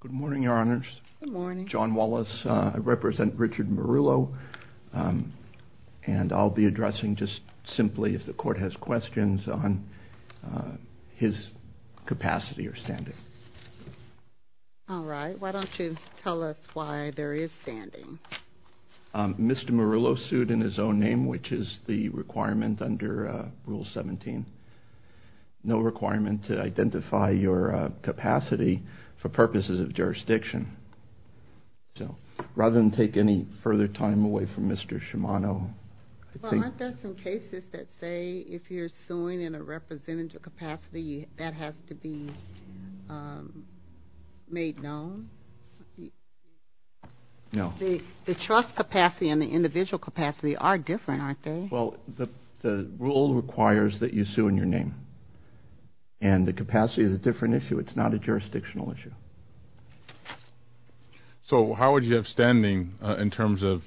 Good morning, Your Honors. Good morning. John Wallace. I represent Richard Marullo, and I'll be addressing just simply if the Court has questions on his capacity or standing. All right. Why don't you tell us why there is standing? Mr. Marullo sued in his own name, which is the requirement under Rule 17. No requirement to identify your capacity for purposes of jurisdiction. So rather than take any further time away from Mr. Shimano. Well, aren't there some cases that say if you're suing in a representative capacity that has to be made known? No. The trust capacity and the individual capacity are different, aren't they? Well, the rule requires that you sue in your name, and the capacity is a different issue. It's not a jurisdictional issue. So how would you have standing in terms of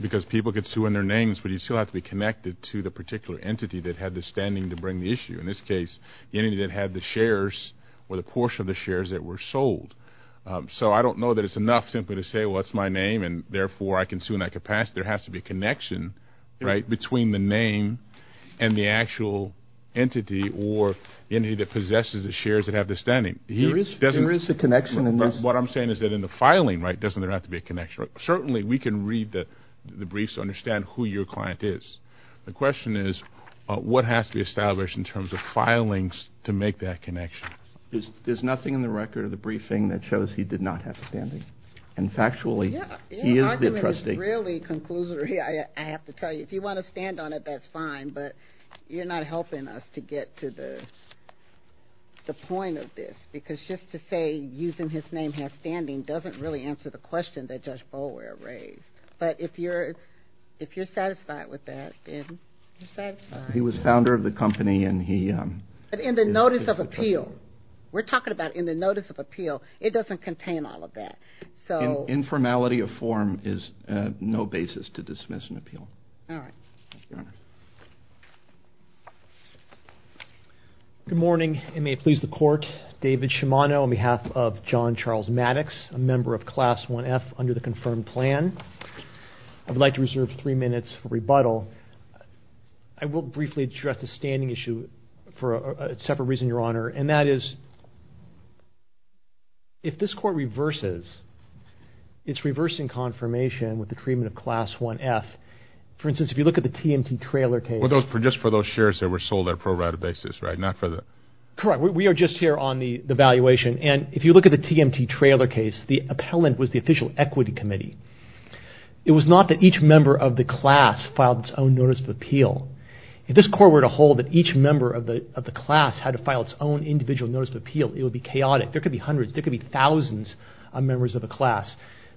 because people could sue in their names, but you still have to be connected to the particular entity that had the standing to bring the issue? In this case, the entity that had the shares or the portion of the shares that were sold. So I don't know that it's enough simply to say, well, that's my name, and therefore I can sue in that capacity. There has to be a connection between the name and the actual entity or the entity that possesses the shares that have the standing. What I'm saying is that in the filing, doesn't there have to be a connection? Certainly, we can read the briefs to understand who your client is. The question is, what has to be established in terms of filings to make that connection? There's nothing in the record of the briefing that shows he did not have standing. And factually, he is the trustee. Your argument is really conclusory, I have to tell you. If you want to stand on it, that's fine, but you're not helping us to get to the point of this. Because just to say, using his name has standing, doesn't really answer the question that Judge Boulware raised. But if you're satisfied with that, then you're satisfied. He was founder of the company and he is the trustee. But in the notice of appeal, we're talking about in the notice of appeal, it doesn't contain all of that. Informality of form is no basis to dismiss an appeal. Good morning. It may please the court. David Shimano on behalf of John Charles Maddox, a member of Class 1F under the confirmed plan. I'd like to reserve three minutes for rebuttal. I will briefly address the standing issue for a separate reason, Your Honor, and that is if this court reverses, it's reversing confirmation with the treatment of Class 1F. For instance, if you look at the TMT trailer case... Well, just for those shares that were sold on a pro-rata basis, right? Not for the... Correct. We are just here on the valuation. And if you look at the TMT trailer case, the appellant was the official equity committee. It was not that each member of the class filed its own notice of appeal. If this court were to hold that each member of the class had to file its own individual appeal, it would be chaotic. There could be hundreds, there could be thousands of members of a class.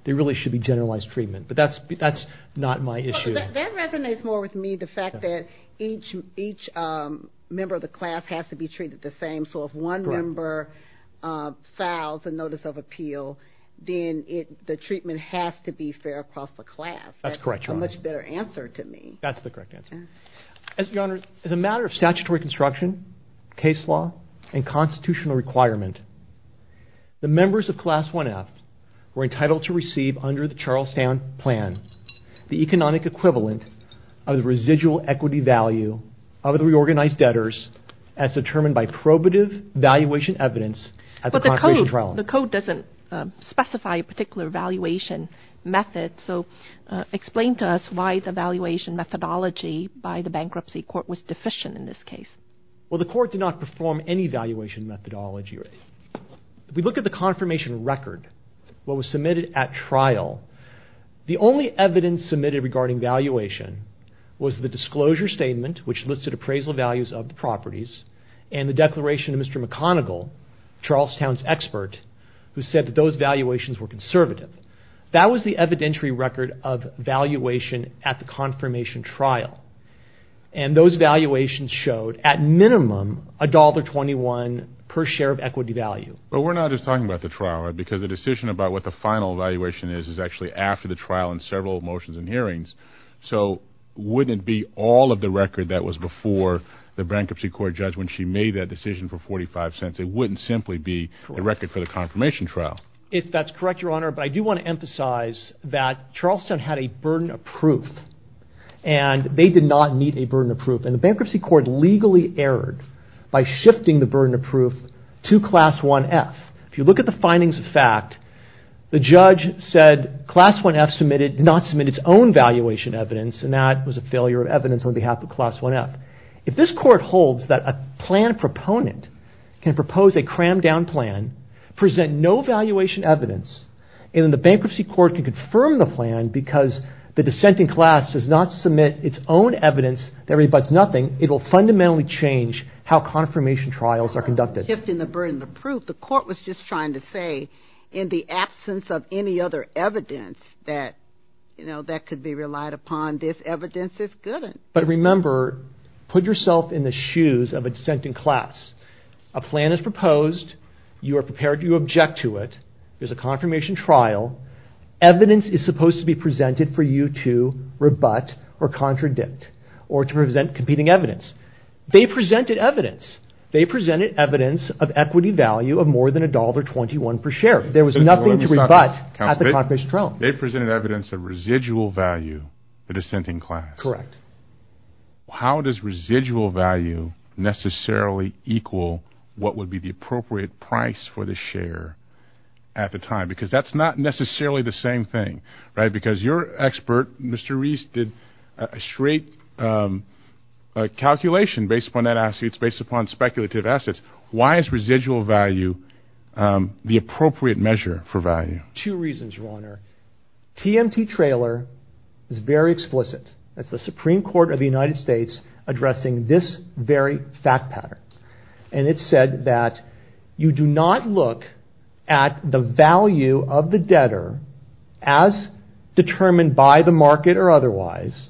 There really should be generalized treatment. But that's not my issue. That resonates more with me, the fact that each member of the class has to be treated the same. So if one member files a notice of appeal, then the treatment has to be fair across the class. That's correct, Your Honor. That's a much better answer to me. That's the correct answer. As a matter of statutory construction, case law, and constitutional requirement, the members of Class 1-F were entitled to receive, under the Charlestown Plan, the economic equivalent of the residual equity value of the reorganized debtors as determined by probative valuation evidence at the trial. The code doesn't specify a particular valuation method. So explain to us why the valuation methodology by the bankruptcy court was deficient in this case. The court did not perform any valuation methodology. If we look at the confirmation record, what was submitted at trial, the only evidence submitted regarding valuation was the disclosure statement, which listed appraisal values of the properties, and the declaration of Mr. McConnell, Charlestown's expert, who said that those valuations were conservative. That was the evidentiary record of valuation at the confirmation trial. And those valuations showed, at minimum, $1.21 per share of equity value. But we're not just talking about the trial, right? Because the decision about what the final valuation is is actually after the trial and several motions and hearings. So wouldn't it be all of the record that was before the bankruptcy court judge when she made that decision for 45 cents? It wouldn't simply be the record for the confirmation trial. If that's correct, Your Honor, but I do want to emphasize that Charlestown had a burden of proof, and they did not meet a burden of proof. And the bankruptcy court legally erred by shifting the burden of proof to Class 1-F. If you look at the findings of fact, the judge said Class 1-F did not submit its own valuation evidence, and that was a failure of evidence on behalf of Class 1-F. If this court holds that a plan proponent can propose a crammed-down plan, present no valuation evidence, and the bankruptcy court can confirm the plan because the dissenting class does not submit its own evidence that rebuts nothing, it will fundamentally change how confirmation trials are conducted. Not shifting the burden of proof. The court was just trying to say, in the absence of any other evidence that could be relied upon, this evidence is good. But remember, put yourself in the shoes of a dissenting class. A plan is proposed, you are prepared to object to it, there's a confirmation trial, evidence is supposed to be presented for you to rebut or contradict or to present competing evidence. They presented evidence. They presented evidence of equity value of more than $1.21 per share. There was nothing to rebut at the confirmation trial. They presented evidence of residual value, the dissenting class. Correct. How does residual value necessarily equal what would be the appropriate price for the share at the time? Because that's not necessarily the same thing, right? Because your expert, Mr. Reese, did a straight calculation based upon that, it's based upon speculative assets. Why is residual value the appropriate measure for value? Two reasons, Your Honor. TMT trailer is very explicit. That's the Supreme Court of the United States addressing this very fact pattern. And it said that you do not look at the value of the debtor as determined by the market or otherwise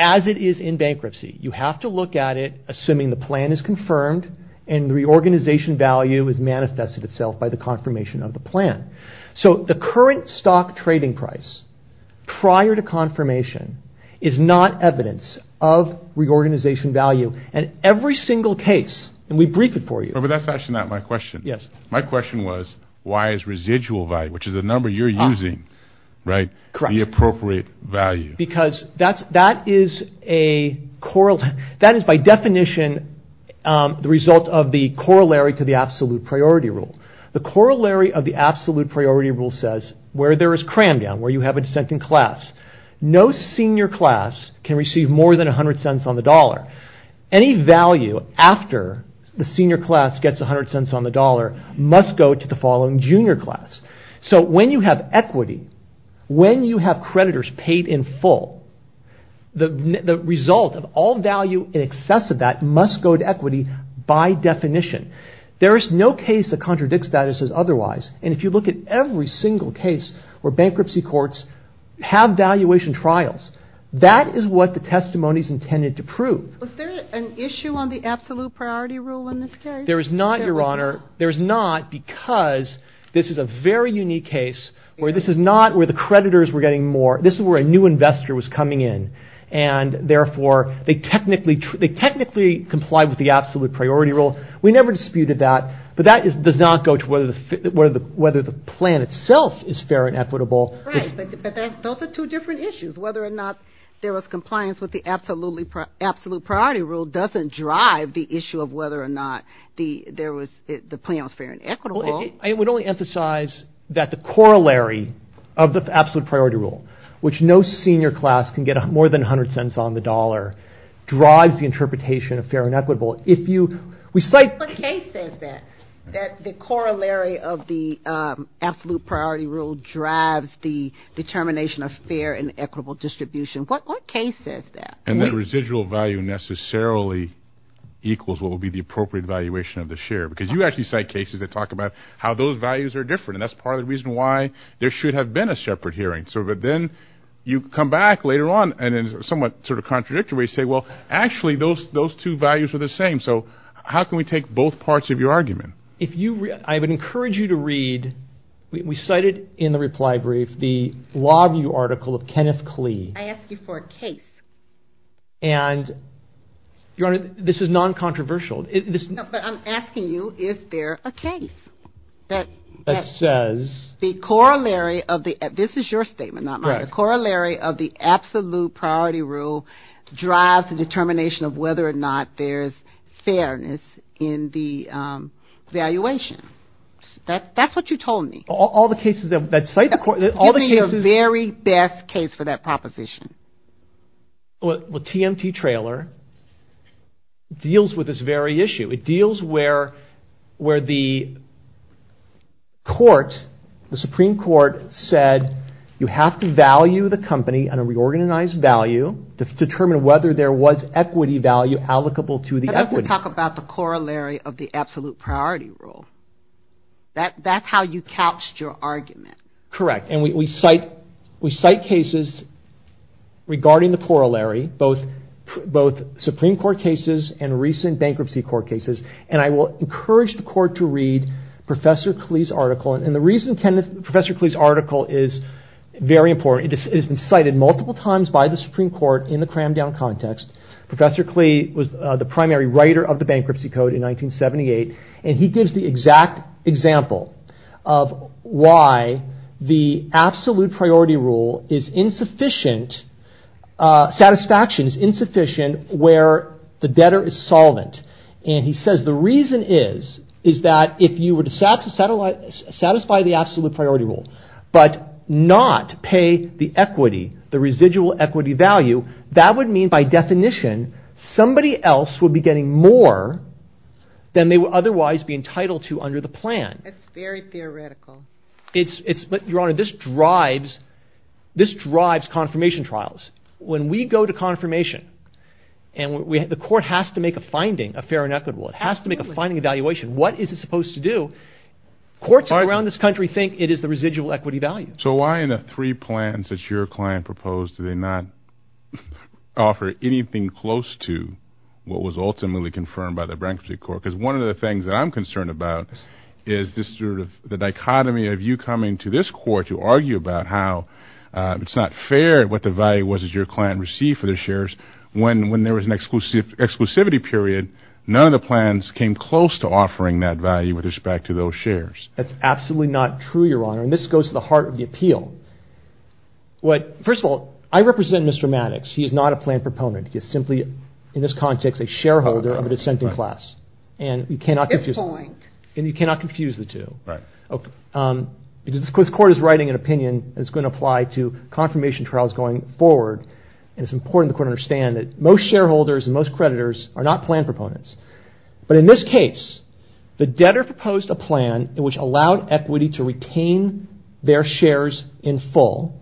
as it is in bankruptcy. You have to look at it assuming the plan is confirmed and the reorganization value has manifested itself by the confirmation of the plan. So the current stock trading price prior to confirmation is not evidence of reorganization value. And every single case, and we brief it for you. But that's actually not my question. My question was, why is residual value, which is the number you're using, the appropriate value? Because that is by definition the result of the corollary to the absolute priority rule. The corollary of the absolute priority rule says where there is cram down, where you have a dissenting class. No senior class can receive more than 100 cents on the dollar. Any value after the senior class gets 100 cents on the dollar must go to the following junior class. So when you have equity, when you have creditors paid in full, the result of all value in excess of that must go to equity by definition. There is no case that contradicts that as otherwise. And if you look at every single case where bankruptcy courts have valuation trials, that is what the testimony is intended to prove. Was there an issue on the absolute priority rule in this case? There is not, Your Honor. There is not because this is a very unique case where this is not where the creditors were getting more. This is where a new investor was coming in. And therefore, they technically complied with the absolute priority rule. We never disputed that, but that does not go to whether the plan itself is fair and equitable. Right, but those are two different issues. Whether or not there was compliance with the absolute priority rule doesn't drive the issue of whether or not the plan was fair and equitable. I would only emphasize that the corollary of the absolute priority rule, which no senior class can get more than 100 cents on the dollar, drives the interpretation of fair and equitable. What case says that, that the corollary of the absolute priority rule drives the determination of fair and equitable distribution? What case says that? And that residual value necessarily equals what would be the appropriate valuation of the share. Because you actually cite cases that talk about how those values are different. And that's part of the reason why there should have been a separate hearing. So that then you come back later on and in somewhat sort of contradictory way say, well, actually those two values are the same. So how can we take both parts of your argument? If you, I would encourage you to read, we cited in the reply brief, the Lawview article of Kenneth Klee. I ask you for a case. And Your Honor, this is non-controversial. But I'm asking you, is there a case that says the corollary of the, this is your statement, not mine, the corollary of the absolute priority rule drives the determination of whether or not there's fairness in the valuation. That's what you told me. All the cases that cite the corollary. Give me your very best case for that proposition. Well, TMT Trailer deals with this very issue. It deals where the court, the Supreme Court said, you have to value the company on a reorganized value to determine whether there was equity value allocable to the equity. I'd like to talk about the corollary of the absolute priority rule. That's how you couched your argument. Correct. And we cite cases regarding the corollary, both Supreme Court cases and recent bankruptcy court cases. And I will encourage the court to read Professor Klee's article. And the reason Kenneth, Professor Klee's article is very important. It has been cited multiple times by the Supreme Court in the crammed down context. Professor Klee was the primary writer of the bankruptcy code in 1978. And he gives the exact example of why the absolute priority rule is insufficient. Satisfaction is insufficient where the debtor is solvent. And he says, the reason is, is that if you were to satisfy the absolute priority rule, but not pay the equity, the residual equity value, that would mean by definition, somebody else would be getting more than they would otherwise be entitled to under the plan. It's very theoretical. It's, Your Honor, this drives, this drives confirmation trials. When we go to confirmation and the court has to make a finding, a fair and equitable, it has to make a finding evaluation. What is it supposed to do? Courts around this country think it is the residual equity value. So why in the three plans that your client proposed, do they not offer anything close to what was ultimately confirmed by the bankruptcy court? Because one of the things that I'm concerned about is this sort of the dichotomy of you coming to this court to argue about how it's not fair what the value was that your client received for their shares. When, when there was an exclusive exclusivity period, none of the plans came close to offering that value with respect to those shares. That's absolutely not true, Your Honor. And this goes to the heart of the appeal. What, first of all, I represent Mr. Maddox. He is not a planned proponent. He is simply, in this context, a shareholder of a dissenting class. And you cannot confuse, and you cannot confuse the two. Right. Okay. Because this court is writing an opinion that's going to apply to confirmation trials going forward. And it's important the court understand that most shareholders and most creditors are not planned proponents. But in this case, the debtor proposed a plan in which allowed equity to retain their shares in full.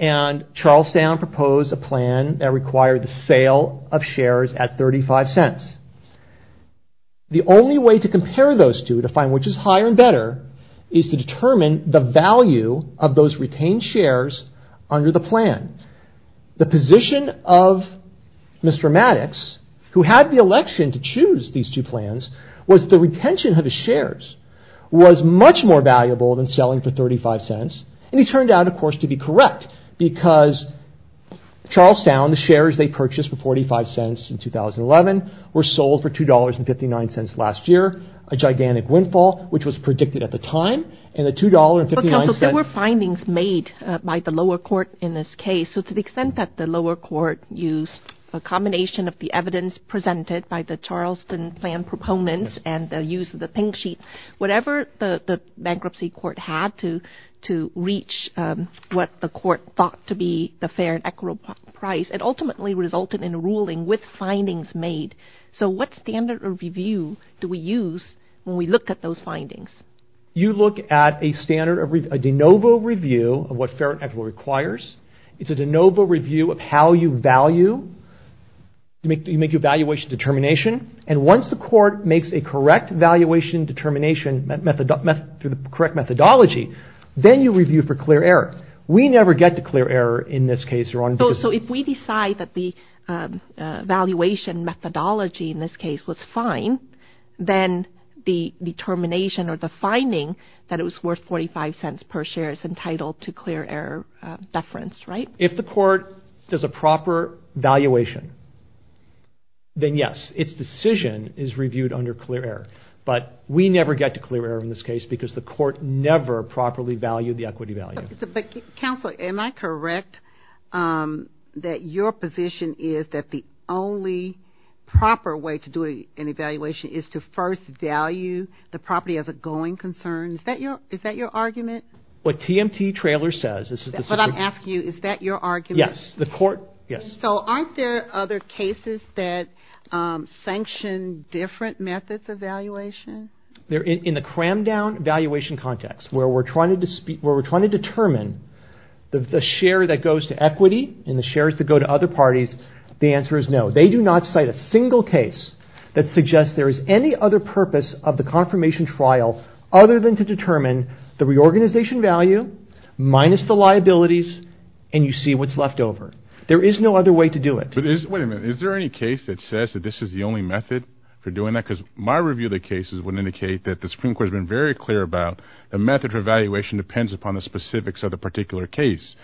And Charlestown proposed a plan that required the sale of shares at 35 cents. The only way to compare those two, to find which is higher and better, is to determine the value of those retained shares under the plan. The position of Mr. Maddox, who had the election to choose these two plans, was the retention of his shares was much more valuable than selling for 35 cents. He turned out, of course, to be correct. Because Charlestown, the shares they purchased for 45 cents in 2011, were sold for $2.59 last year. A gigantic windfall, which was predicted at the time. And the $2.59... Counsel, there were findings made by the lower court in this case. So to the extent that the lower court used a combination of the evidence presented by the Charleston planned proponents and the use of the pink sheet, whatever the bankruptcy court had to reach, what the court thought to be the fair and equitable price, it ultimately resulted in a ruling with findings made. So what standard of review do we use when we look at those findings? You look at a standard, a de novo review of what fair and equitable requires. It's a de novo review of how you value, you make your valuation determination. And once the court makes a correct valuation determination, through the correct methodology, then you review for clear error. We never get to clear error in this case, Your Honor. So if we decide that the valuation methodology in this case was fine, then the determination or the finding that it was worth 45 cents per share is entitled to clear error deference, right? If the court does a proper valuation, then yes, its decision is reviewed under clear error. But we never get to clear error in this case because the court never properly valued the equity value. Counselor, am I correct that your position is that the only proper way to do an evaluation is to first value the property as a going concern? Is that your argument? What TMT Trailer says is... I'm asking you, is that your argument? Yes, the court, yes. So aren't there other cases that sanction different methods of valuation? They're in the crammed down valuation context, where we're trying to determine the share that goes to equity and the shares that go to other parties. The answer is no. They do not cite a single case that suggests there is any other purpose of the confirmation trial other than to determine the reorganization value minus the liabilities and you see what's left over. There is no other way to do it. But wait a minute. Is there any case that says that this is the only method for doing that? Because my review of the cases would indicate that the Supreme Court has been very clear about the method of evaluation depends upon the specifics of the particular case.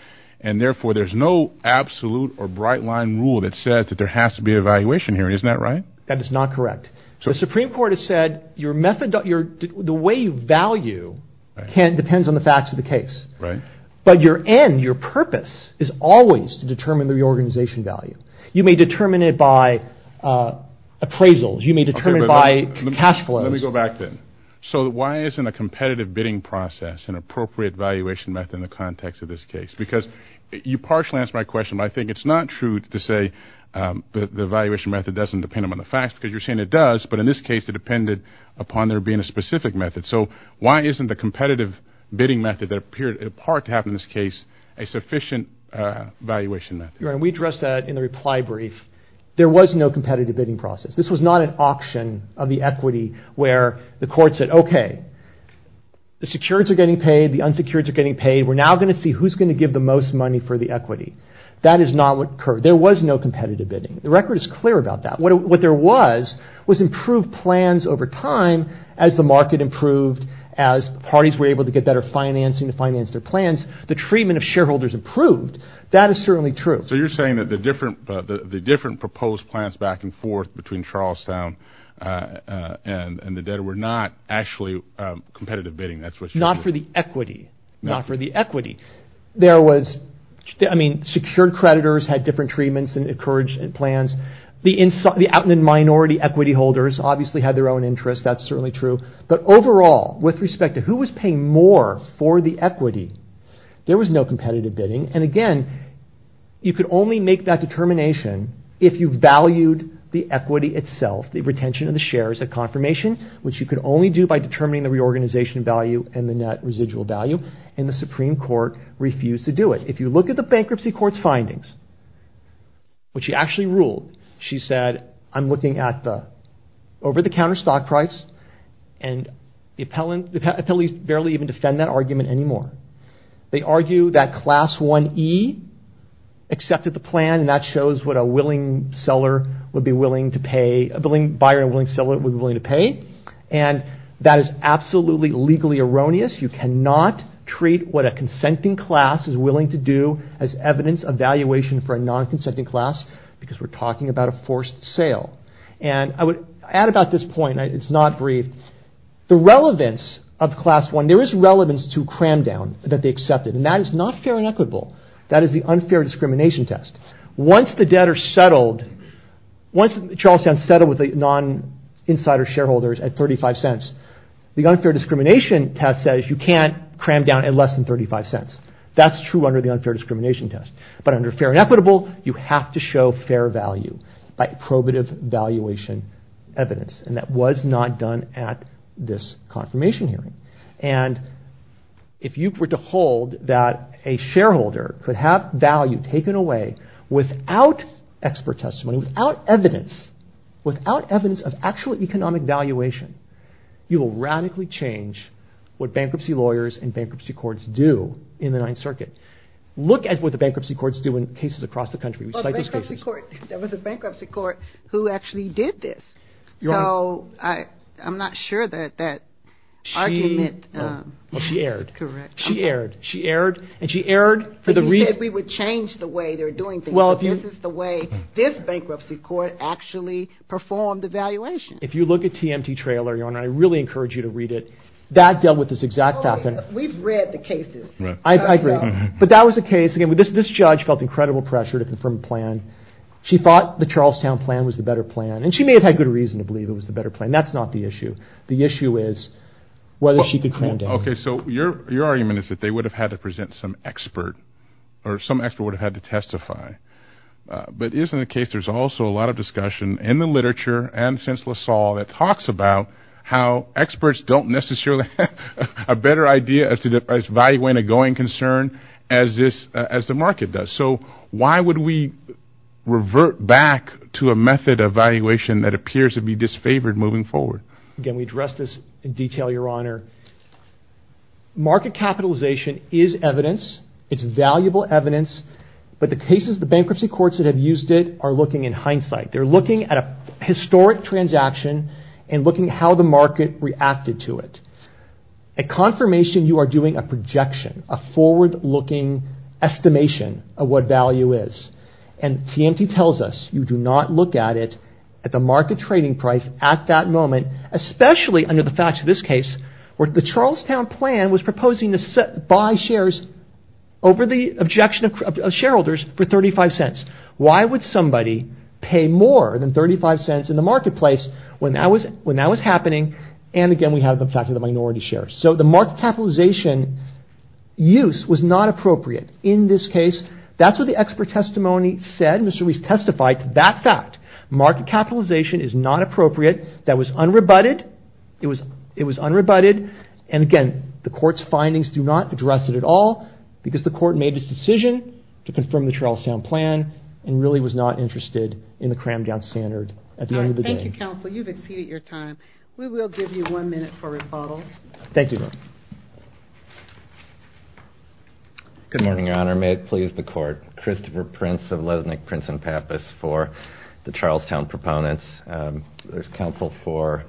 And therefore, there's no absolute or bright line rule that says that there has to be evaluation here. Isn't that right? That is not correct. So the Supreme Court has said the way you value depends on the facts of the case. Right. But your end, your purpose is always to determine the reorganization value. You may determine it by appraisals. You may determine it by cash flows. Let me go back then. So why isn't a competitive bidding process an appropriate valuation method in the context of this case? Because you partially answered my question, but I think it's not true to say the valuation method doesn't depend on the facts because you're saying it does. But in this case, it depended upon there being a specific method. So why isn't the competitive bidding method that appeared in part to have in this case a sufficient valuation method? And we addressed that in the reply brief. There was no competitive bidding process. This was not an auction of the equity where the court said, OK, the securities are getting paid. The unsecurities are getting paid. We're now going to see who's going to give the most money for the equity. That is not what occurred. There was no competitive bidding. The record is clear about that. What there was was improved plans over time as the market improved, as parties were able to get better financing to finance their plans. The treatment of shareholders improved. That is certainly true. So you're saying that the different proposed plans back and forth between Charlestown and the debtor were not actually competitive bidding. That's what you're saying. Not for the equity. Not for the equity. Secured creditors had different treatments and encouraged plans. The outland minority equity holders obviously had their own interests. That's certainly true. But overall, with respect to who was paying more for the equity, there was no competitive bidding. And again, you could only make that determination if you valued the equity itself, the retention of the shares at confirmation, which you could only do by determining the reorganization value and the net residual value. And the Supreme Court refused to do it. If you look at the Bankruptcy Court's findings, what she actually ruled, she said, I'm looking at the over-the-counter stock price, and the appellees barely even defend that argument anymore. They argue that Class 1e accepted the plan, and that shows what a willing buyer and willing seller would be willing to pay. And that is absolutely legally erroneous. You cannot treat what a consenting class is willing to do as evidence of valuation for a non-consenting class, because we're talking about a forced sale. And I would add about this point, it's not brief, the relevance of Class 1, there is relevance to cram down that they accepted, and that is not fair and equitable. That is the unfair discrimination test. Once the debtors settled, once Charlestown settled with the non-insider shareholders at 35 cents, the unfair discrimination test says you can't cram down at less than 35 cents. That's true under the unfair discrimination test. But under fair and equitable, you have to show fair value by probative valuation evidence, and that was not done at this confirmation hearing. And if you were to hold that a shareholder could have value taken away without expert testimony, without evidence, without evidence of actual economic valuation, you will radically change what bankruptcy lawyers and bankruptcy courts do in the Ninth Circuit. Look at what the bankruptcy courts do in cases across the country. There was a bankruptcy court who actually did this. So I'm not sure that that argument... She erred. Correct. She erred. She erred. And she erred for the reason... You said we would change the way they're doing things. Well, if you... This is the way this bankruptcy court actually performed the valuation. If you look at TMT trailer, Your Honor, I really encourage you to read it. That dealt with this exact fact. We've read the case. I agree. But that was the case. Again, this judge felt incredible pressure to confirm a plan. She thought the Charlestown plan was the better plan, and she may have had good reason to believe it was the better plan. That's not the issue. The issue is whether she could cram down. Okay. So your argument is that they would have had to present some expert or some expert would have had to testify. But isn't the case there's also a lot of discussion in the literature and since LaSalle that talks about how experts don't necessarily have a better idea as to the value in a going concern as this as the market does. So why would we revert back to a method of valuation that appears to be disfavored moving forward? Again, we address this in detail, Your Honor. Market capitalization is evidence. It's valuable evidence. But the cases, the bankruptcy courts that have used it are looking in hindsight. They're looking at a historic transaction and looking how the market reacted to it. At confirmation, you are doing a projection, a forward-looking estimation of what value is. And TMT tells us you do not look at it at the market trading price at that moment, especially under the facts of this case, where the Charlestown plan was proposing to buy shares over the objection of shareholders for 35 cents. Why would somebody pay more than 35 cents in the marketplace when that was happening? And again, we have the fact of the minority shares. So the market capitalization use was not appropriate in this case. That's what the expert testimony said. Mr. Reese testified to that fact. Market capitalization is not appropriate. That was unrebutted. It was unrebutted. And again, the court's findings do not address it at all because the court made its decision to confirm the Charlestown plan and really was not interested in the crammed-down standard at the end of the day. Thank you, counsel. You've exceeded your time. We will give you one minute for rebuttal. Thank you. Good morning, Your Honor. May it please the court. Christopher Prince of Lesnick, Prince and Pappas for the Charlestown proponents. There's counsel for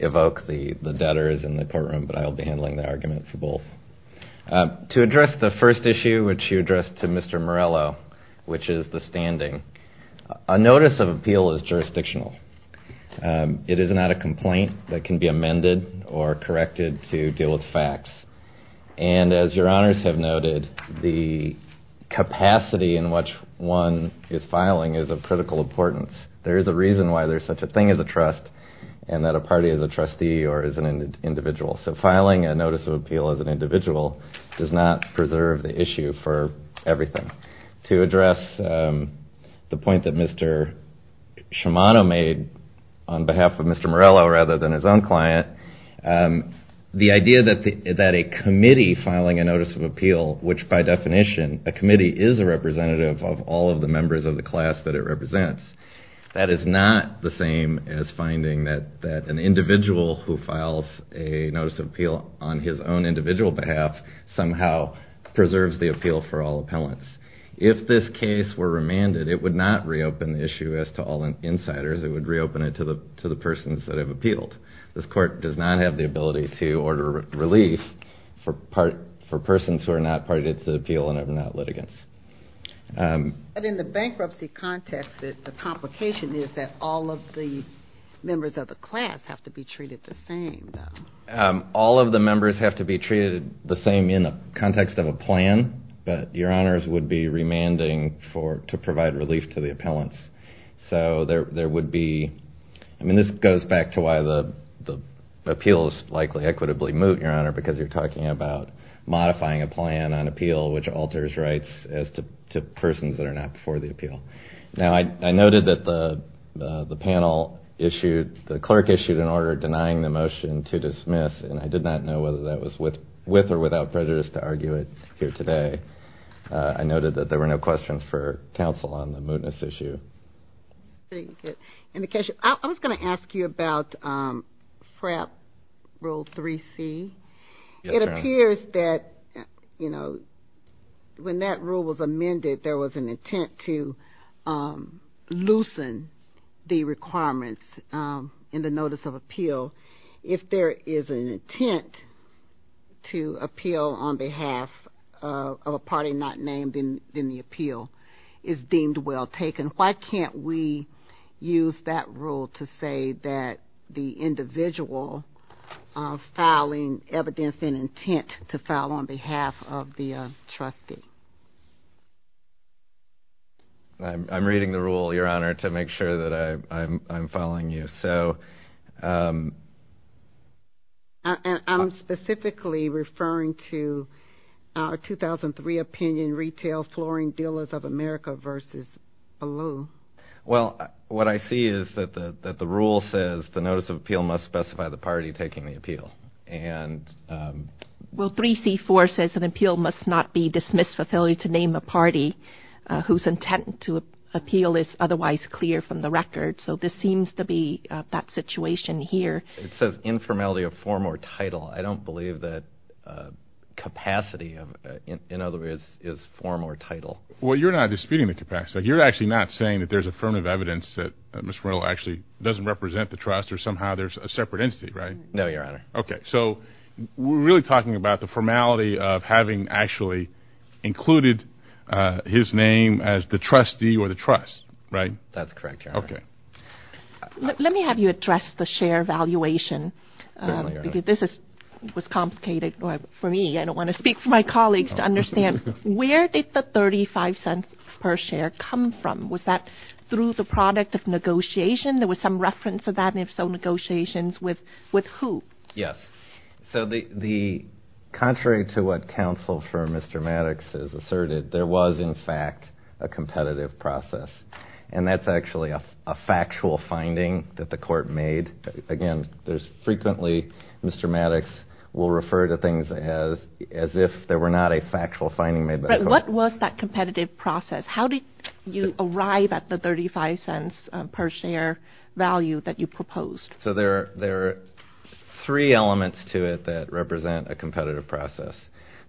Evoke, the debtor is in the courtroom, but I'll be handling the argument for both. To address the first issue, which you addressed to Mr. Morello, which is the standing, a notice of appeal is jurisdictional. It is not a complaint that can be amended or corrected to deal with facts. And as Your Honors have noted, the capacity in which one is filing is of critical importance. There is a reason why there's such a thing as a trust and that a party is a trustee or is an individual. So filing a notice of appeal as an individual does not preserve the issue for everything. To address the point that Mr. Shimano made on behalf of Mr. Morello rather than his own client, the idea that a committee filing a notice of appeal, which by definition, a committee is a representative of all of the members of the class that it represents, that is not the same as finding that an individual who files a notice of appeal on his own individual behalf somehow preserves the appeal for all appellants. If this case were remanded, it would not reopen the issue as to all insiders, it would reopen it to the persons that have appealed. This court does not have the ability to order relief for persons who are not part of the appeal and are not litigants. But in the bankruptcy context, the complication is that all of the members of the class have to be treated the same. All of the members have to be treated the same in the context of a plan, but your honors would be remanding to provide relief to the appellants. So there would be, I mean this goes back to why the appeals likely equitably moot, your honor, because you're talking about modifying a plan on appeal which alters rights to persons that are not before the appeal. Now I noted that the panel issued, the clerk issued an order denying the motion to dismiss and I did not know whether that was with or without prejudice to argue it here today. I noted that there were no questions for counsel on the mootness issue. I was going to ask you about FRAP rule 3C. It appears that, you know, when that rule was amended, there was an intent to loosen the requirements in the notice of appeal. If there is an intent to appeal on behalf of a party not named in the appeal, it's deemed well taken. Why can't we use that rule to say that the individual of filing evidence in intent to file on behalf of the trustee? I'm reading the rule, your honor, to make sure that I'm following you. I'm specifically referring to our 2003 opinion, retail flooring dealers of America versus Ballou. Well, what I see is that the rule says the notice of appeal must specify the party taking the appeal. Well, 3C.4 says an appeal must not be dismissed for failure to name a party whose intent to appeal is otherwise clear from the record. So this seems to be that situation here. It says informality of form or title. I don't believe that capacity, in other words, is form or title. Well, you're not disputing the capacity. You're actually not saying that there's affirmative evidence that Mr. Reynolds actually doesn't represent the trust or somehow there's a separate entity, right? No, your honor. Okay. So we're really talking about the formality of having actually included his name as the trustee or the trust, right? That's correct, your honor. Okay. Let me have you address the share valuation. Because this was complicated for me. I don't want to speak for my colleagues to understand where did the $0.35 per share come from? Was that through the product of negotiation? There was some reference to that, and if so, negotiations with who? Yes. So contrary to what counsel for Mr. Maddox has asserted, there was, in fact, a competitive process, and that's actually a factual finding that the court made. Again, frequently Mr. Maddox will refer to things as if there were not a factual finding made by the court. What was that competitive process? How did you arrive at the $0.35 per share value that you proposed? So there are three elements to it that represent a competitive process.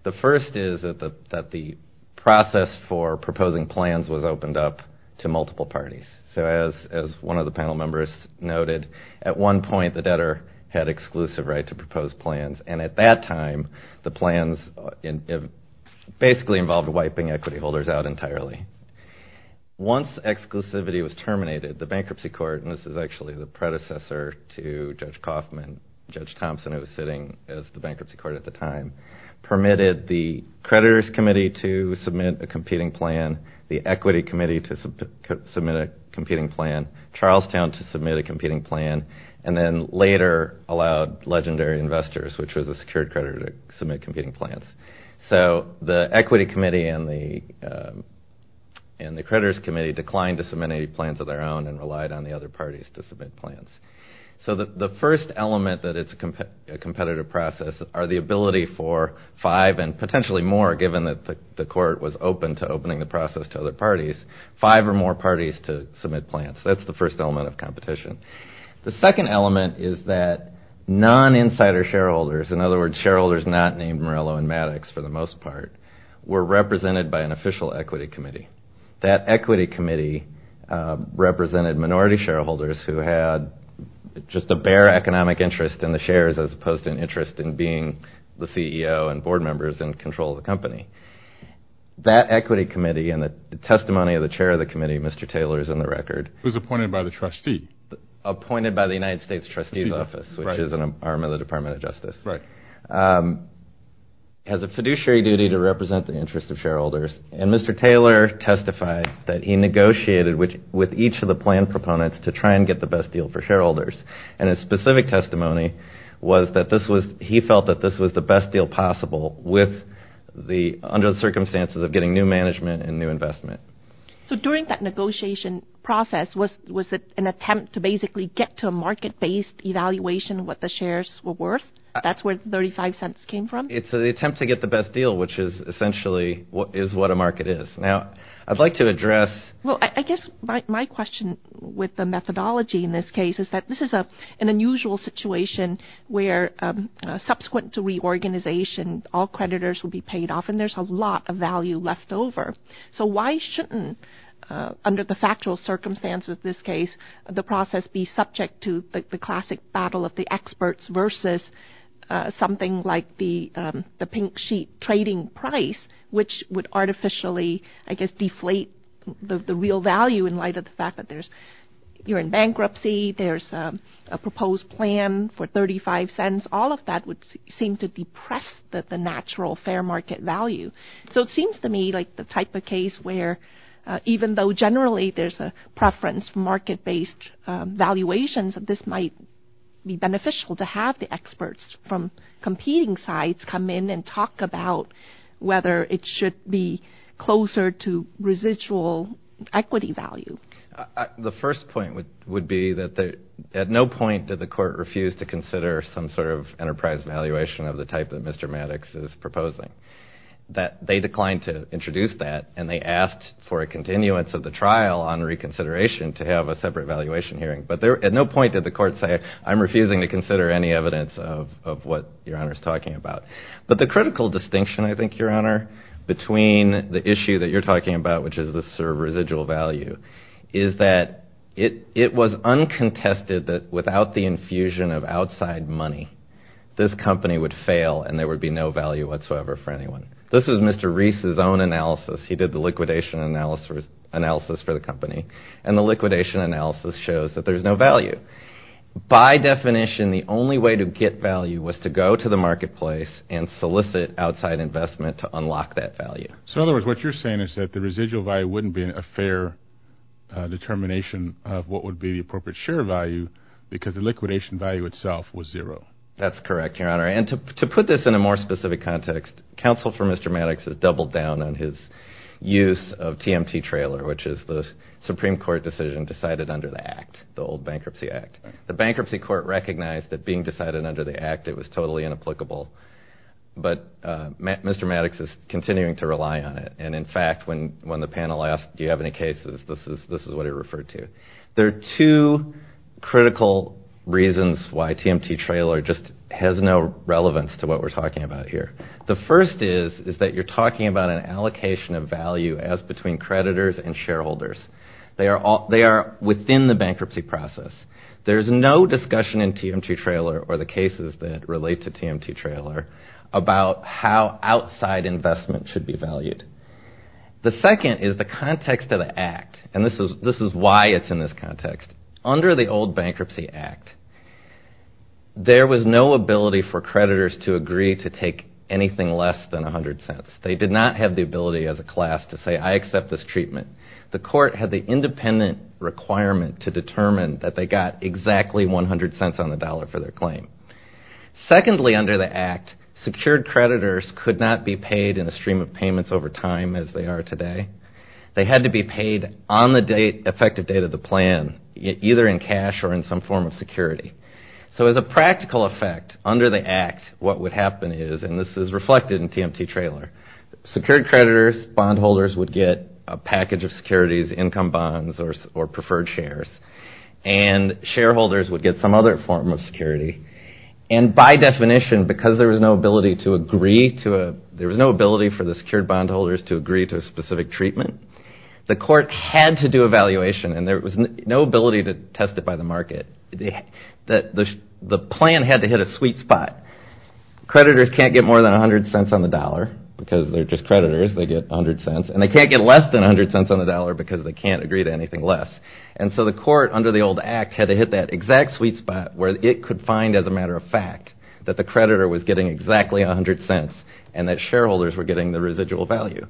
The first is that the process for proposing plans was opened up to multiple parties. So as one of the panel members noted, at one point the debtor had exclusive right to propose plans, and at that time the plans basically involved wiping equity holders out entirely. Once exclusivity was terminated, the bankruptcy court, and this is actually the predecessor to Judge Kaufman, Judge Thompson who was sitting as the bankruptcy court at the time, permitted the creditors committee to submit a competing plan, the equity committee to submit a competing plan, Charlestown to submit a competing plan, and then later allowed Legendary Investors, which was a secured creditor, to submit competing plans. So the equity committee and the creditors committee declined to submit any plans of their own and relied on the other parties to submit plans. So the first element that it's a competitive process are the ability for five and potentially more, given that the court was open to opening the process to other parties, five or more parties to submit plans. That's the first element of competition. The second element is that non-insider shareholders, in other words, shareholders not named Morello and Maddox for the most part, were represented by an official equity committee. That equity committee represented minority shareholders who had just a bare economic interest in the shares as opposed to an interest in being the CEO and board members and control the company. That equity committee and the testimony of the chair of the committee, Mr. Taylor, is in the record. Who's appointed by the trustee. Appointed by the United States trustee's office, which is an arm of the Department of Justice. Right. Has a fiduciary duty to represent the interests of shareholders. And Mr. Taylor testified that he negotiated with each of the plan proponents to try and get the best deal for shareholders. And his specific testimony was that he felt that this was the best deal possible under the circumstances of getting new management and new investment. So during that negotiation process, was it an attempt to basically get to a market-based evaluation of what the shares were worth? That's where 35 cents came from? It's an attempt to get the best deal, which is essentially what is what a market is. Now, I'd like to address. Well, I guess my question with the methodology in this case is that this is an unusual situation where subsequent to reorganization, all creditors will be paid off and there's a lot of value left over. So why shouldn't, under the factual circumstances of this case, the process be subject to the classic battle of the experts versus something like the pink sheet trading price, which would artificially, I guess, deflate the real value in light of the fact that you're in bankruptcy, there's a proposed plan for 35 cents, all of that would seem to depress the natural fair market value. So it seems to me like the type of case where even though generally there's a preference for market-based valuations, that this might be beneficial to have the experts from competing sides come in and talk about whether it should be closer to residual equity value. The first point would be that at no point did the court refuse to consider some sort of enterprise valuation of the type that Mr. Maddox is proposing. They declined to introduce that and they asked for a continuance of the trial on reconsideration to have a separate valuation hearing. But at no point did the court say, I'm refusing to consider any evidence of what Your Honor's talking about. But the critical distinction, I think, Your Honor, between the issue that you're talking about, which is the sort of residual value, is that it was uncontested that without the infusion of outside money, this company would fail and there would be no value whatsoever for anyone. This is Mr. Reese's own analysis. He did the liquidation analysis for the company and the liquidation analysis shows that there's no value. By definition, the only way to get value was to go to the marketplace and solicit outside investment to unlock that value. So in other words, what you're saying is that the residual value wouldn't be a fair determination of what would be the appropriate share value because the liquidation value itself was zero. That's correct, Your Honor. And to put this in a more specific context, counsel for Mr. Maddox has doubled down on his use of TMT Trailer, which is the Supreme Court decision decided under the Act, the old Bankruptcy Act. The Bankruptcy Court recognized that being decided under the Act, it was totally inapplicable. But Mr. Maddox is continuing to rely on it. And in fact, when the panel asked, do you have any cases, this is what he referred to. There are two critical reasons why TMT Trailer just has no relevance to what we're talking about here. The first is, is that you're talking about an allocation of value as between creditors and shareholders. They are within the bankruptcy process. There's no discussion in TMT Trailer or the cases that relate to TMT Trailer about how outside investment should be valued. The second is the context of the Act. And this is why it's in this context. Under the old Bankruptcy Act, there was no ability for creditors to agree to take anything less than 100 cents. They did not have the ability as a class to say, I accept this treatment. The court had the independent requirement to determine that they got exactly 100 cents on the dollar for their claim. Secondly, under the Act, secured creditors could not be paid in a stream of payments over time as they are today. They had to be paid on the effective date of the plan, either in cash or in some form of security. So, as a practical effect, under the Act, what would happen is, and this is reflected in TMT Trailer, secured creditors, bondholders would get a package of securities, income bonds or preferred shares. And shareholders would get some other form of security. And by definition, because there was no ability to agree to a, there was no ability for the bondholders to agree to a specific treatment, the court had to do a valuation. And there was no ability to test it by the market. The plan had to hit a sweet spot. Creditors can't get more than 100 cents on the dollar because they're just creditors. They get 100 cents. And they can't get less than 100 cents on the dollar because they can't agree to anything less. And so, the court, under the old Act, had to hit that exact sweet spot where it could find, as a matter of fact, that the creditor was getting exactly 100 cents and that shareholders were getting the residual value.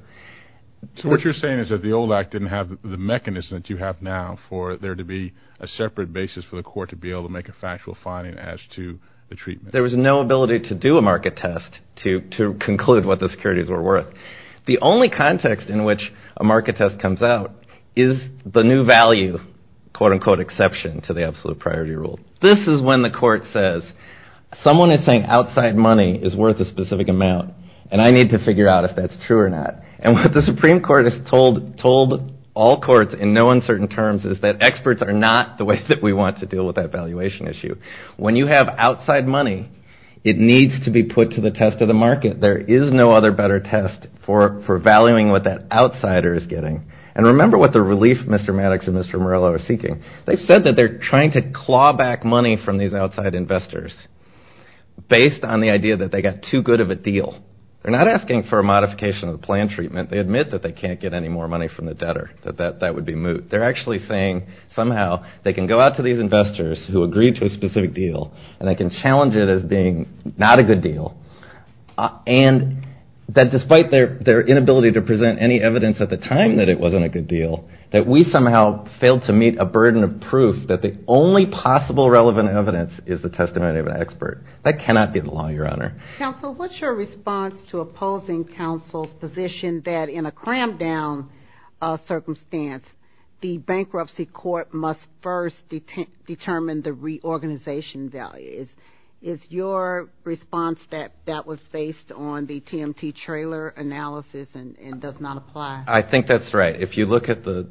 So what you're saying is that the old Act didn't have the mechanism that you have now for there to be a separate basis for the court to be able to make a factual finding as to the treatment. There was no ability to do a market test to conclude what the securities were worth. The only context in which a market test comes out is the new value, quote unquote, exception to the absolute priority rule. This is when the court says, someone is saying outside money is worth a specific amount and I need to figure out if that's true or not. And what the Supreme Court has told all courts in no uncertain terms is that experts are not the way that we want to deal with that valuation issue. When you have outside money, it needs to be put to the test of the market. There is no other better test for valuing what that outsider is getting. And remember what the relief Mr. Maddox and Mr. Morello are seeking. They said that they're trying to claw back money from these outside investors based on the idea that they got too good of a deal. They're not asking for a modification of the plan treatment. They admit that they can't get any more money from the debtor, that that would be moot. They're actually saying somehow they can go out to these investors who agreed to a specific deal and they can challenge it as being not a good deal and that despite their inability to present any evidence at the time that it wasn't a good deal, that we somehow failed to meet a burden of proof that the only possible relevant evidence is the testimony of an expert. That cannot be the law, Your Honor. Counsel, what's your response to opposing counsel's position that in a crammed down circumstance, the bankruptcy court must first determine the reorganization value? Is your response that that was based on the TMT trailer analysis and does not apply? I think that's right. If you look at the,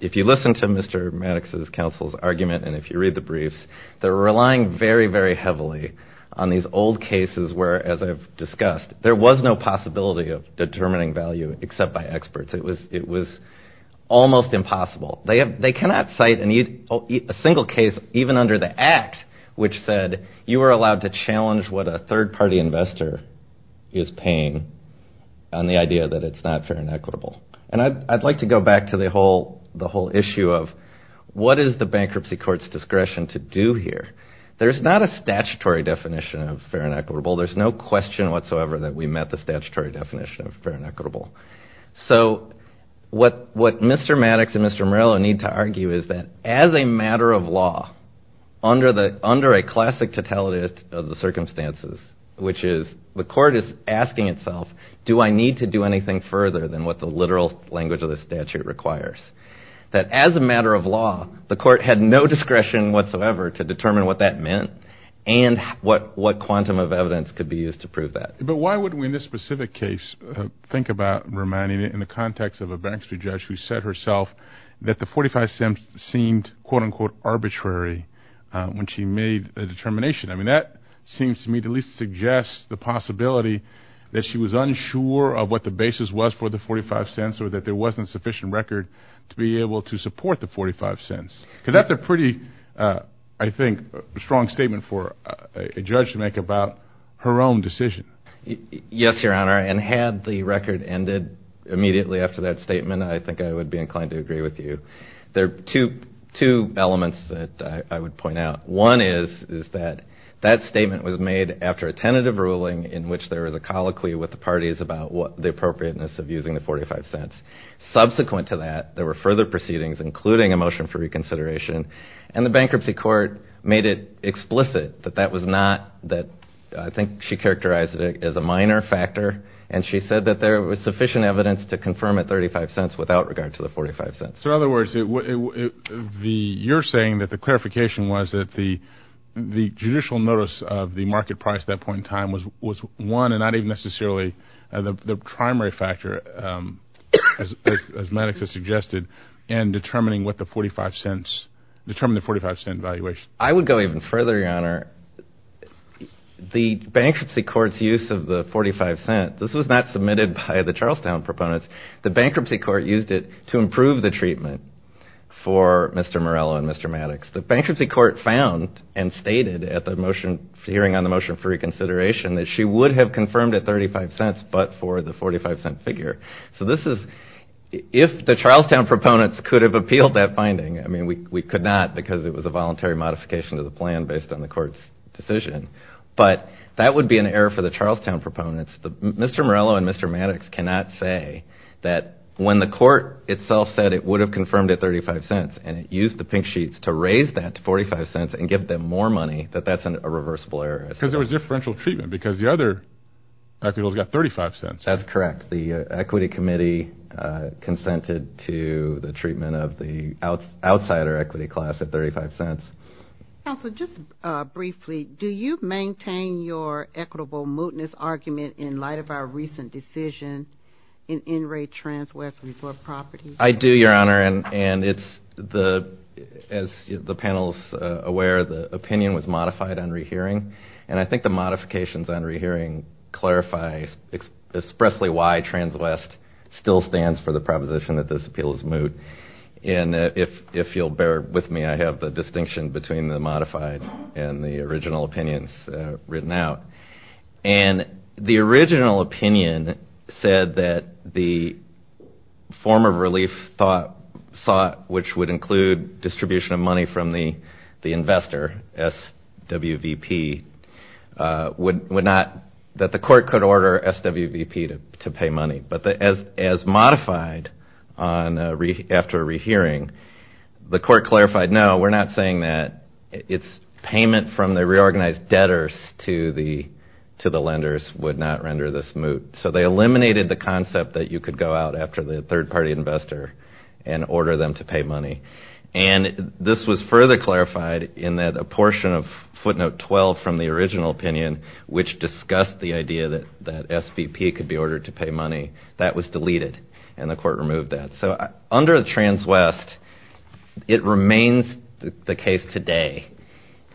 if you listen to Mr. Maddox's counsel's argument and if you read the briefs, they're relying very, very heavily on these old cases where as I've discussed, there was no possibility of determining value except by experts. It was almost impossible. They cannot cite a single case even under the act which said you were allowed to challenge what a third party investor is paying on the idea that it's not fair and equitable. And I'd like to go back to the whole issue of what is the bankruptcy court's discretion to do here? There's not a statutory definition of fair and equitable. There's no question whatsoever that we met the statutory definition of fair and equitable. So what Mr. Maddox and Mr. Morello need to argue is that as a matter of law, under a classic totality of the circumstances, which is the court is asking itself, do I need to do anything further than what the literal language of the statute requires? That as a matter of law, the court had no discretion whatsoever to determine what that meant and what quantum of evidence could be used to prove that. But why wouldn't we, in this specific case, think about reminding it in the context of a bankruptcy judge who said herself that the 45 cents seemed, quote unquote, arbitrary when she made a determination? I mean, that seems to me to at least suggest the possibility that she was unsure of what the basis was for the 45 cents or that there wasn't sufficient record to be able to support the 45 cents. Because that's a pretty, I think, strong statement for a judge to make about her own decision. Yes, Your Honor. And had the record ended immediately after that statement, I think I would be inclined to agree with you. There are two elements that I would point out. One is that that statement was made after a tentative ruling in which there was a colloquy with the parties about the appropriateness of using the 45 cents. Subsequent to that, there were further proceedings, including a motion for reconsideration. And the bankruptcy court made it explicit that that was not, that I think she characterized it as a minor factor. And she said that there was sufficient evidence to confirm at 35 cents without regard to the 45 cents. So in other words, you're saying that the clarification was that the judicial notice of the market price at that point in time was one and not even necessarily the primary factor, as Maddox has suggested, in determining what the 45 cents, determining the 45 cent valuation. I would go even further, Your Honor. The bankruptcy court's use of the 45 cents, this was not submitted by the Charlestown proponents. The bankruptcy court used it to improve the treatment for Mr. Morello and Mr. Maddox. The bankruptcy court found and stated at the hearing on the motion for reconsideration that she would have confirmed at 35 cents but for the 45 cent figure. So this is, if the Charlestown proponents could have appealed that finding, I mean, we could not because it was a voluntary modification of the plan based on the court's decision. But that would be an error for the Charlestown proponents. Mr. Morello and Mr. Maddox cannot say that when the court itself said it would have confirmed at 35 cents and it used the pink sheets to raise that to 45 cents and give them more money that that's a reversible error. Because there was differential treatment because the other equitables got 35 cents. That's correct. The equity committee consented to the treatment of the outsider equity class at 35 cents. Counsel, just briefly, do you maintain your equitable mootness argument in light of our recent decision in NRA TransWest Resort property? I do, Your Honor, and it's the, as the panel's aware, the opinion was modified on rehearing. And I think the modifications on rehearing clarifies expressly why TransWest still stands for the proposition that this appeal is moot. And if you'll bear with me, I have the distinction between the modified and the original opinions written out. And the original opinion said that the form of relief thought, which would include distribution of money from the investor, SWVP, would not, that the court could order SWVP to pay money. But as modified on, after a rehearing, the court clarified, no, we're not saying that it's payment from the reorganized debtors to the lenders would not render this moot. So they eliminated the concept that you could go out after the third-party investor and order them to pay money. And this was further clarified in that a portion of footnote 12 from the original opinion, which discussed the idea that SVP could be ordered to pay money, that was deleted. And the court removed that. Under the TransWest, it remains the case today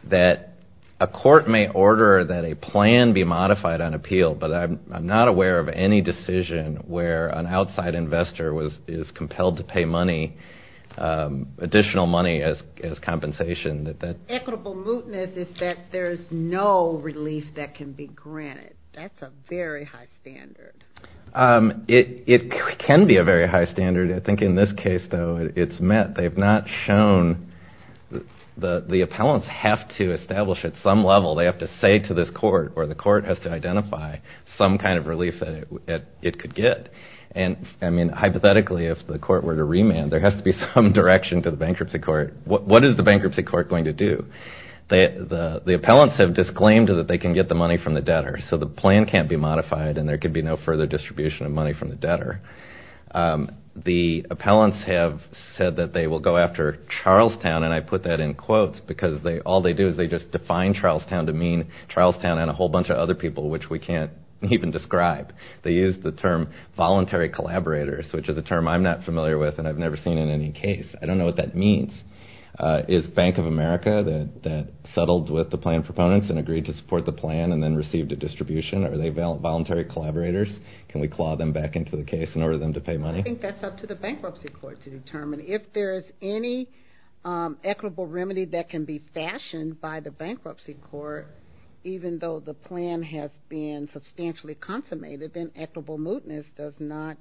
that a court may order that a plan be modified on appeal, but I'm not aware of any decision where an outside investor is compelled to pay money, additional money as compensation. That that equitable mootness is that there's no relief that can be granted. That's a very high standard. It can be a very high standard. I think in this case, though, it's met. They've not shown, the appellants have to establish at some level, they have to say to this court or the court has to identify some kind of relief that it could get. And I mean, hypothetically, if the court were to remand, there has to be some direction to the bankruptcy court. What is the bankruptcy court going to do? The appellants have disclaimed that they can get the money from the debtors. So the plan can't be modified, and there could be no further distribution of money from the debtor. The appellants have said that they will go after Charlestown. And I put that in quotes because all they do is they just define Charlestown to mean Charlestown and a whole bunch of other people, which we can't even describe. They use the term voluntary collaborators, which is a term I'm not familiar with and I've never seen in any case. I don't know what that means. Is Bank of America that settled with the plan proponents and agreed to support the plan and then received a distribution? Are they voluntary collaborators? Can we claw them back into the case in order for them to pay money? I think that's up to the bankruptcy court to determine. If there is any equitable remedy that can be fashioned by the bankruptcy court, even though the plan has been substantially consummated, then equitable mootness does not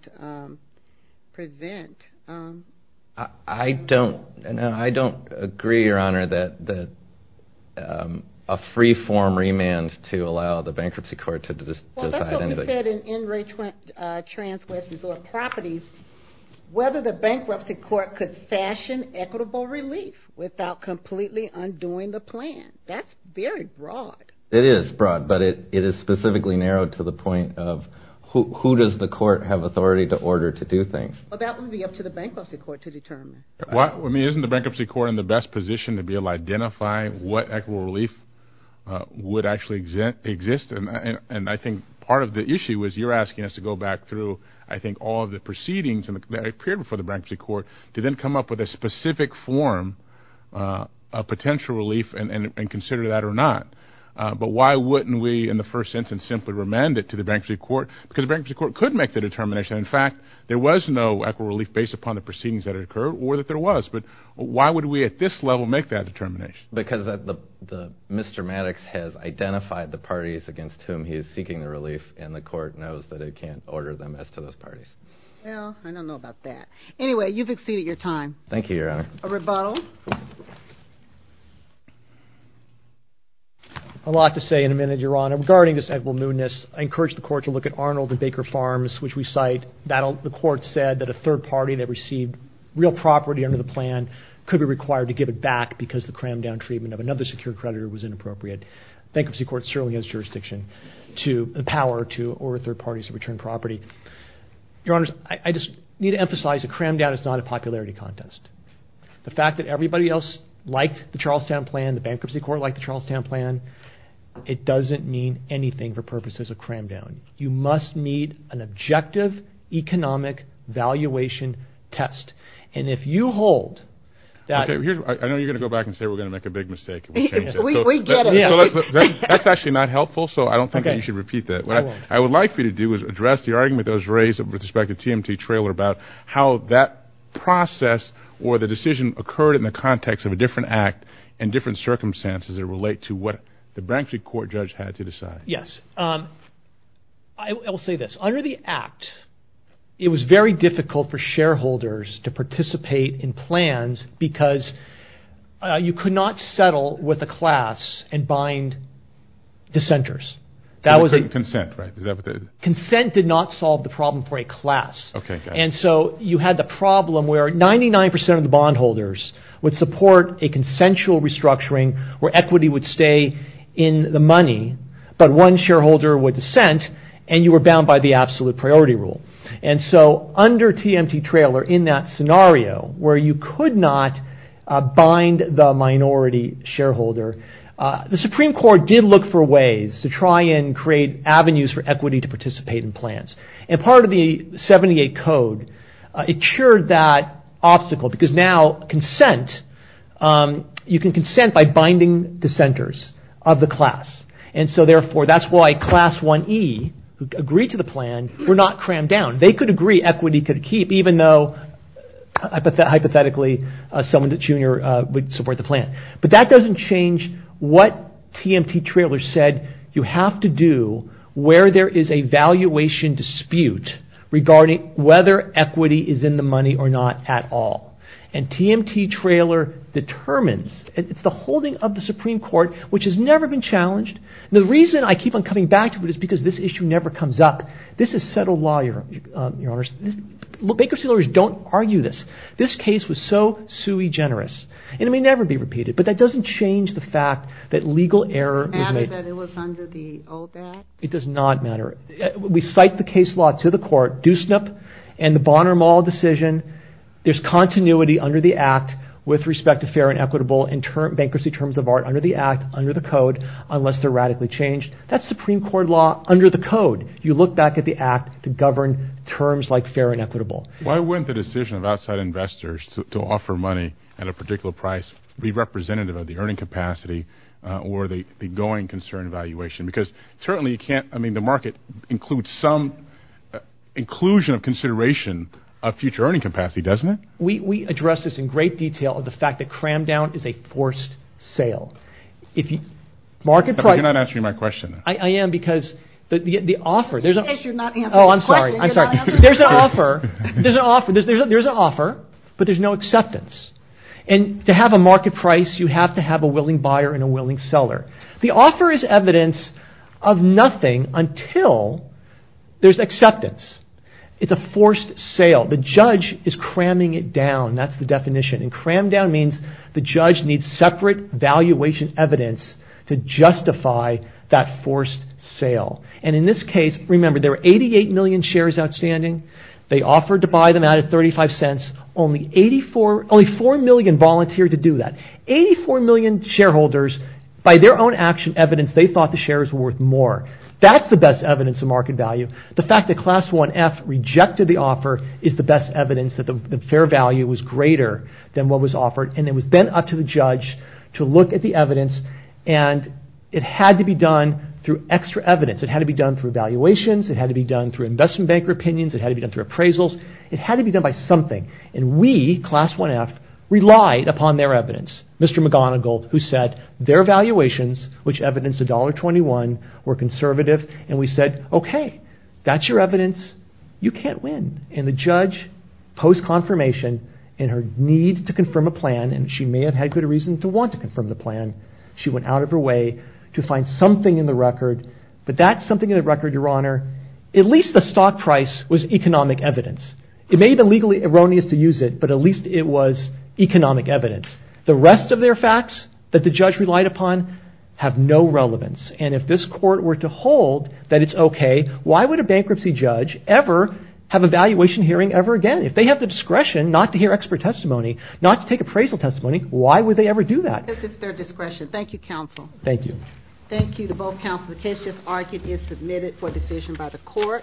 present. I don't agree, Your Honor, that a free form remand to allow the bankruptcy court to decide. That's what we said in NRA Trans West Resort Properties, whether the bankruptcy court could fashion equitable relief without completely undoing the plan. That's very broad. It is broad, but it is specifically narrowed to the point of who does the court have authority to order to do things? That would be up to the bankruptcy court to determine. Isn't the bankruptcy court in the best position to be able to identify what equitable relief would actually exist? I think part of the issue is you're asking us to go back through, I think, all of the proceedings that appeared before the bankruptcy court to then come up with a specific form of potential relief and consider that or not. But why wouldn't we, in the first instance, simply remand it to the bankruptcy court? Because the bankruptcy court could make the determination. In fact, there was no equitable relief based upon the proceedings that had occurred or that there was. But why would we at this level make that determination? Because Mr. Maddox has identified the parties against whom he is seeking the relief, and the court knows that it can't order them as to those parties. Well, I don't know about that. Anyway, you've exceeded your time. Thank you, Your Honor. A rebuttal? A lot to say in a minute, Your Honor. Regarding this equitable newness, I encourage the court to look at Arnold and Baker Farms, which we cite. The court said that a third party that received real property under the plan could be required to give it back because the cram-down treatment of another secure creditor was inappropriate. Bankruptcy court certainly has jurisdiction to empower to order third parties to return property. Your Honors, I just need to emphasize a cram-down is not a popularity contest. The fact that everybody else liked the Charlestown plan, the bankruptcy court liked the Charlestown plan, it doesn't mean anything for purposes of cram-down. You must meet an objective economic valuation test. And if you hold that... Okay, I know you're going to go back and say we're going to make a big mistake. We get it. That's actually not helpful, so I don't think you should repeat that. What I would like for you to do is address the argument that was raised with respect to the TMT trailer about how that process or the decision occurred in the context of a different act and different circumstances that relate to what the bankruptcy court judge had to decide. Yes, I will say this. Under the act, it was very difficult for shareholders to participate in plans because you could not settle with a class and bind dissenters. Consent, right? Consent did not solve the problem for a class. And so you had the problem where 99% of the bondholders would support a consensual restructuring where equity would stay in the money, but one shareholder would dissent and you were bound by the absolute priority rule. And so under TMT trailer, in that scenario where you could not bind the minority shareholder, the Supreme Court did look for ways to try and create avenues for equity to participate in plans. And part of the 78 code, it cured that obstacle because now consent, you can consent by binding dissenters of the class. And so therefore, that's why class 1E, who agreed to the plan, were not crammed down. They could agree equity could keep even though hypothetically someone junior would support the plan. But that doesn't change what TMT trailer said you have to do where there is a valuation dispute regarding whether equity is in the money or not at all. And TMT trailer determines, it's the holding of the Supreme Court, which has never been challenged. The reason I keep on coming back to it is because this issue never comes up. This is settled law, Your Honors. Bankruptcy lawyers don't argue this. This case was so sui generis. And it may never be repeated, but that doesn't change the fact that legal error. Does it matter that it was under the old act? It does not matter. We cite the case law to the court, Doosnip and the Bonner-Mall decision. There's continuity under the act with respect to fair and equitable and bankruptcy terms of art under the act, under the code, unless they're radically changed. That's Supreme Court law under the code. You look back at the act to govern terms like fair and equitable. Why wouldn't the decision of outside investors to offer money at a particular price be representative of the earning capacity or the going concern valuation? Because certainly you can't. I mean, the market includes some inclusion of consideration of future earning capacity, doesn't it? We address this in great detail of the fact that cram down is a forced sale. If you market, you're not answering my question. I am because the offer there's a you're not answering. Oh, I'm sorry. I'm sorry. There's an offer. There's an offer. There's an offer, but there's no acceptance. And to have a market price, you have to have a willing buyer and a willing seller. The offer is evidence of nothing until there's acceptance. It's a forced sale. The judge is cramming it down. That's the definition. And cram down means the judge needs separate valuation evidence to justify that forced sale. And in this case, remember, there were 88 million shares outstanding. They offered to buy them out at 35 cents. Only 84, only 4 million volunteered to do that. 84 million shareholders, by their own action evidence, they thought the shares were worth more. That's the best evidence of market value. The fact that Class 1F rejected the offer is the best evidence that the fair value was greater than what was offered. And it was then up to the judge to look at the evidence. And it had to be done through extra evidence. It had to be done through valuations. It had to be done through investment banker opinions. It had to be done through appraisals. It had to be done by something. And we, Class 1F, relied upon their evidence, Mr. McGonigal, who said their valuations, which evidenced $1.21, were conservative. And we said, OK, that's your evidence. You can't win. And the judge, post-confirmation, in her need to confirm a plan, and she may have had good reason to want to confirm the plan, she went out of her way to find something in the record. But that something in the record, Your Honor, at least the stock price was economic evidence. It may have been legally erroneous to use it, but at least it was economic evidence. The rest of their facts that the judge relied upon have no relevance. And if this court were to hold that it's OK, why would a bankruptcy judge ever have a valuation hearing ever again? If they have the discretion not to hear expert testimony, not to take appraisal testimony, why would they ever do that? This is their discretion. Thank you, counsel. Thank you. Thank you to both counsel. The case just argued is submitted for decision by the court.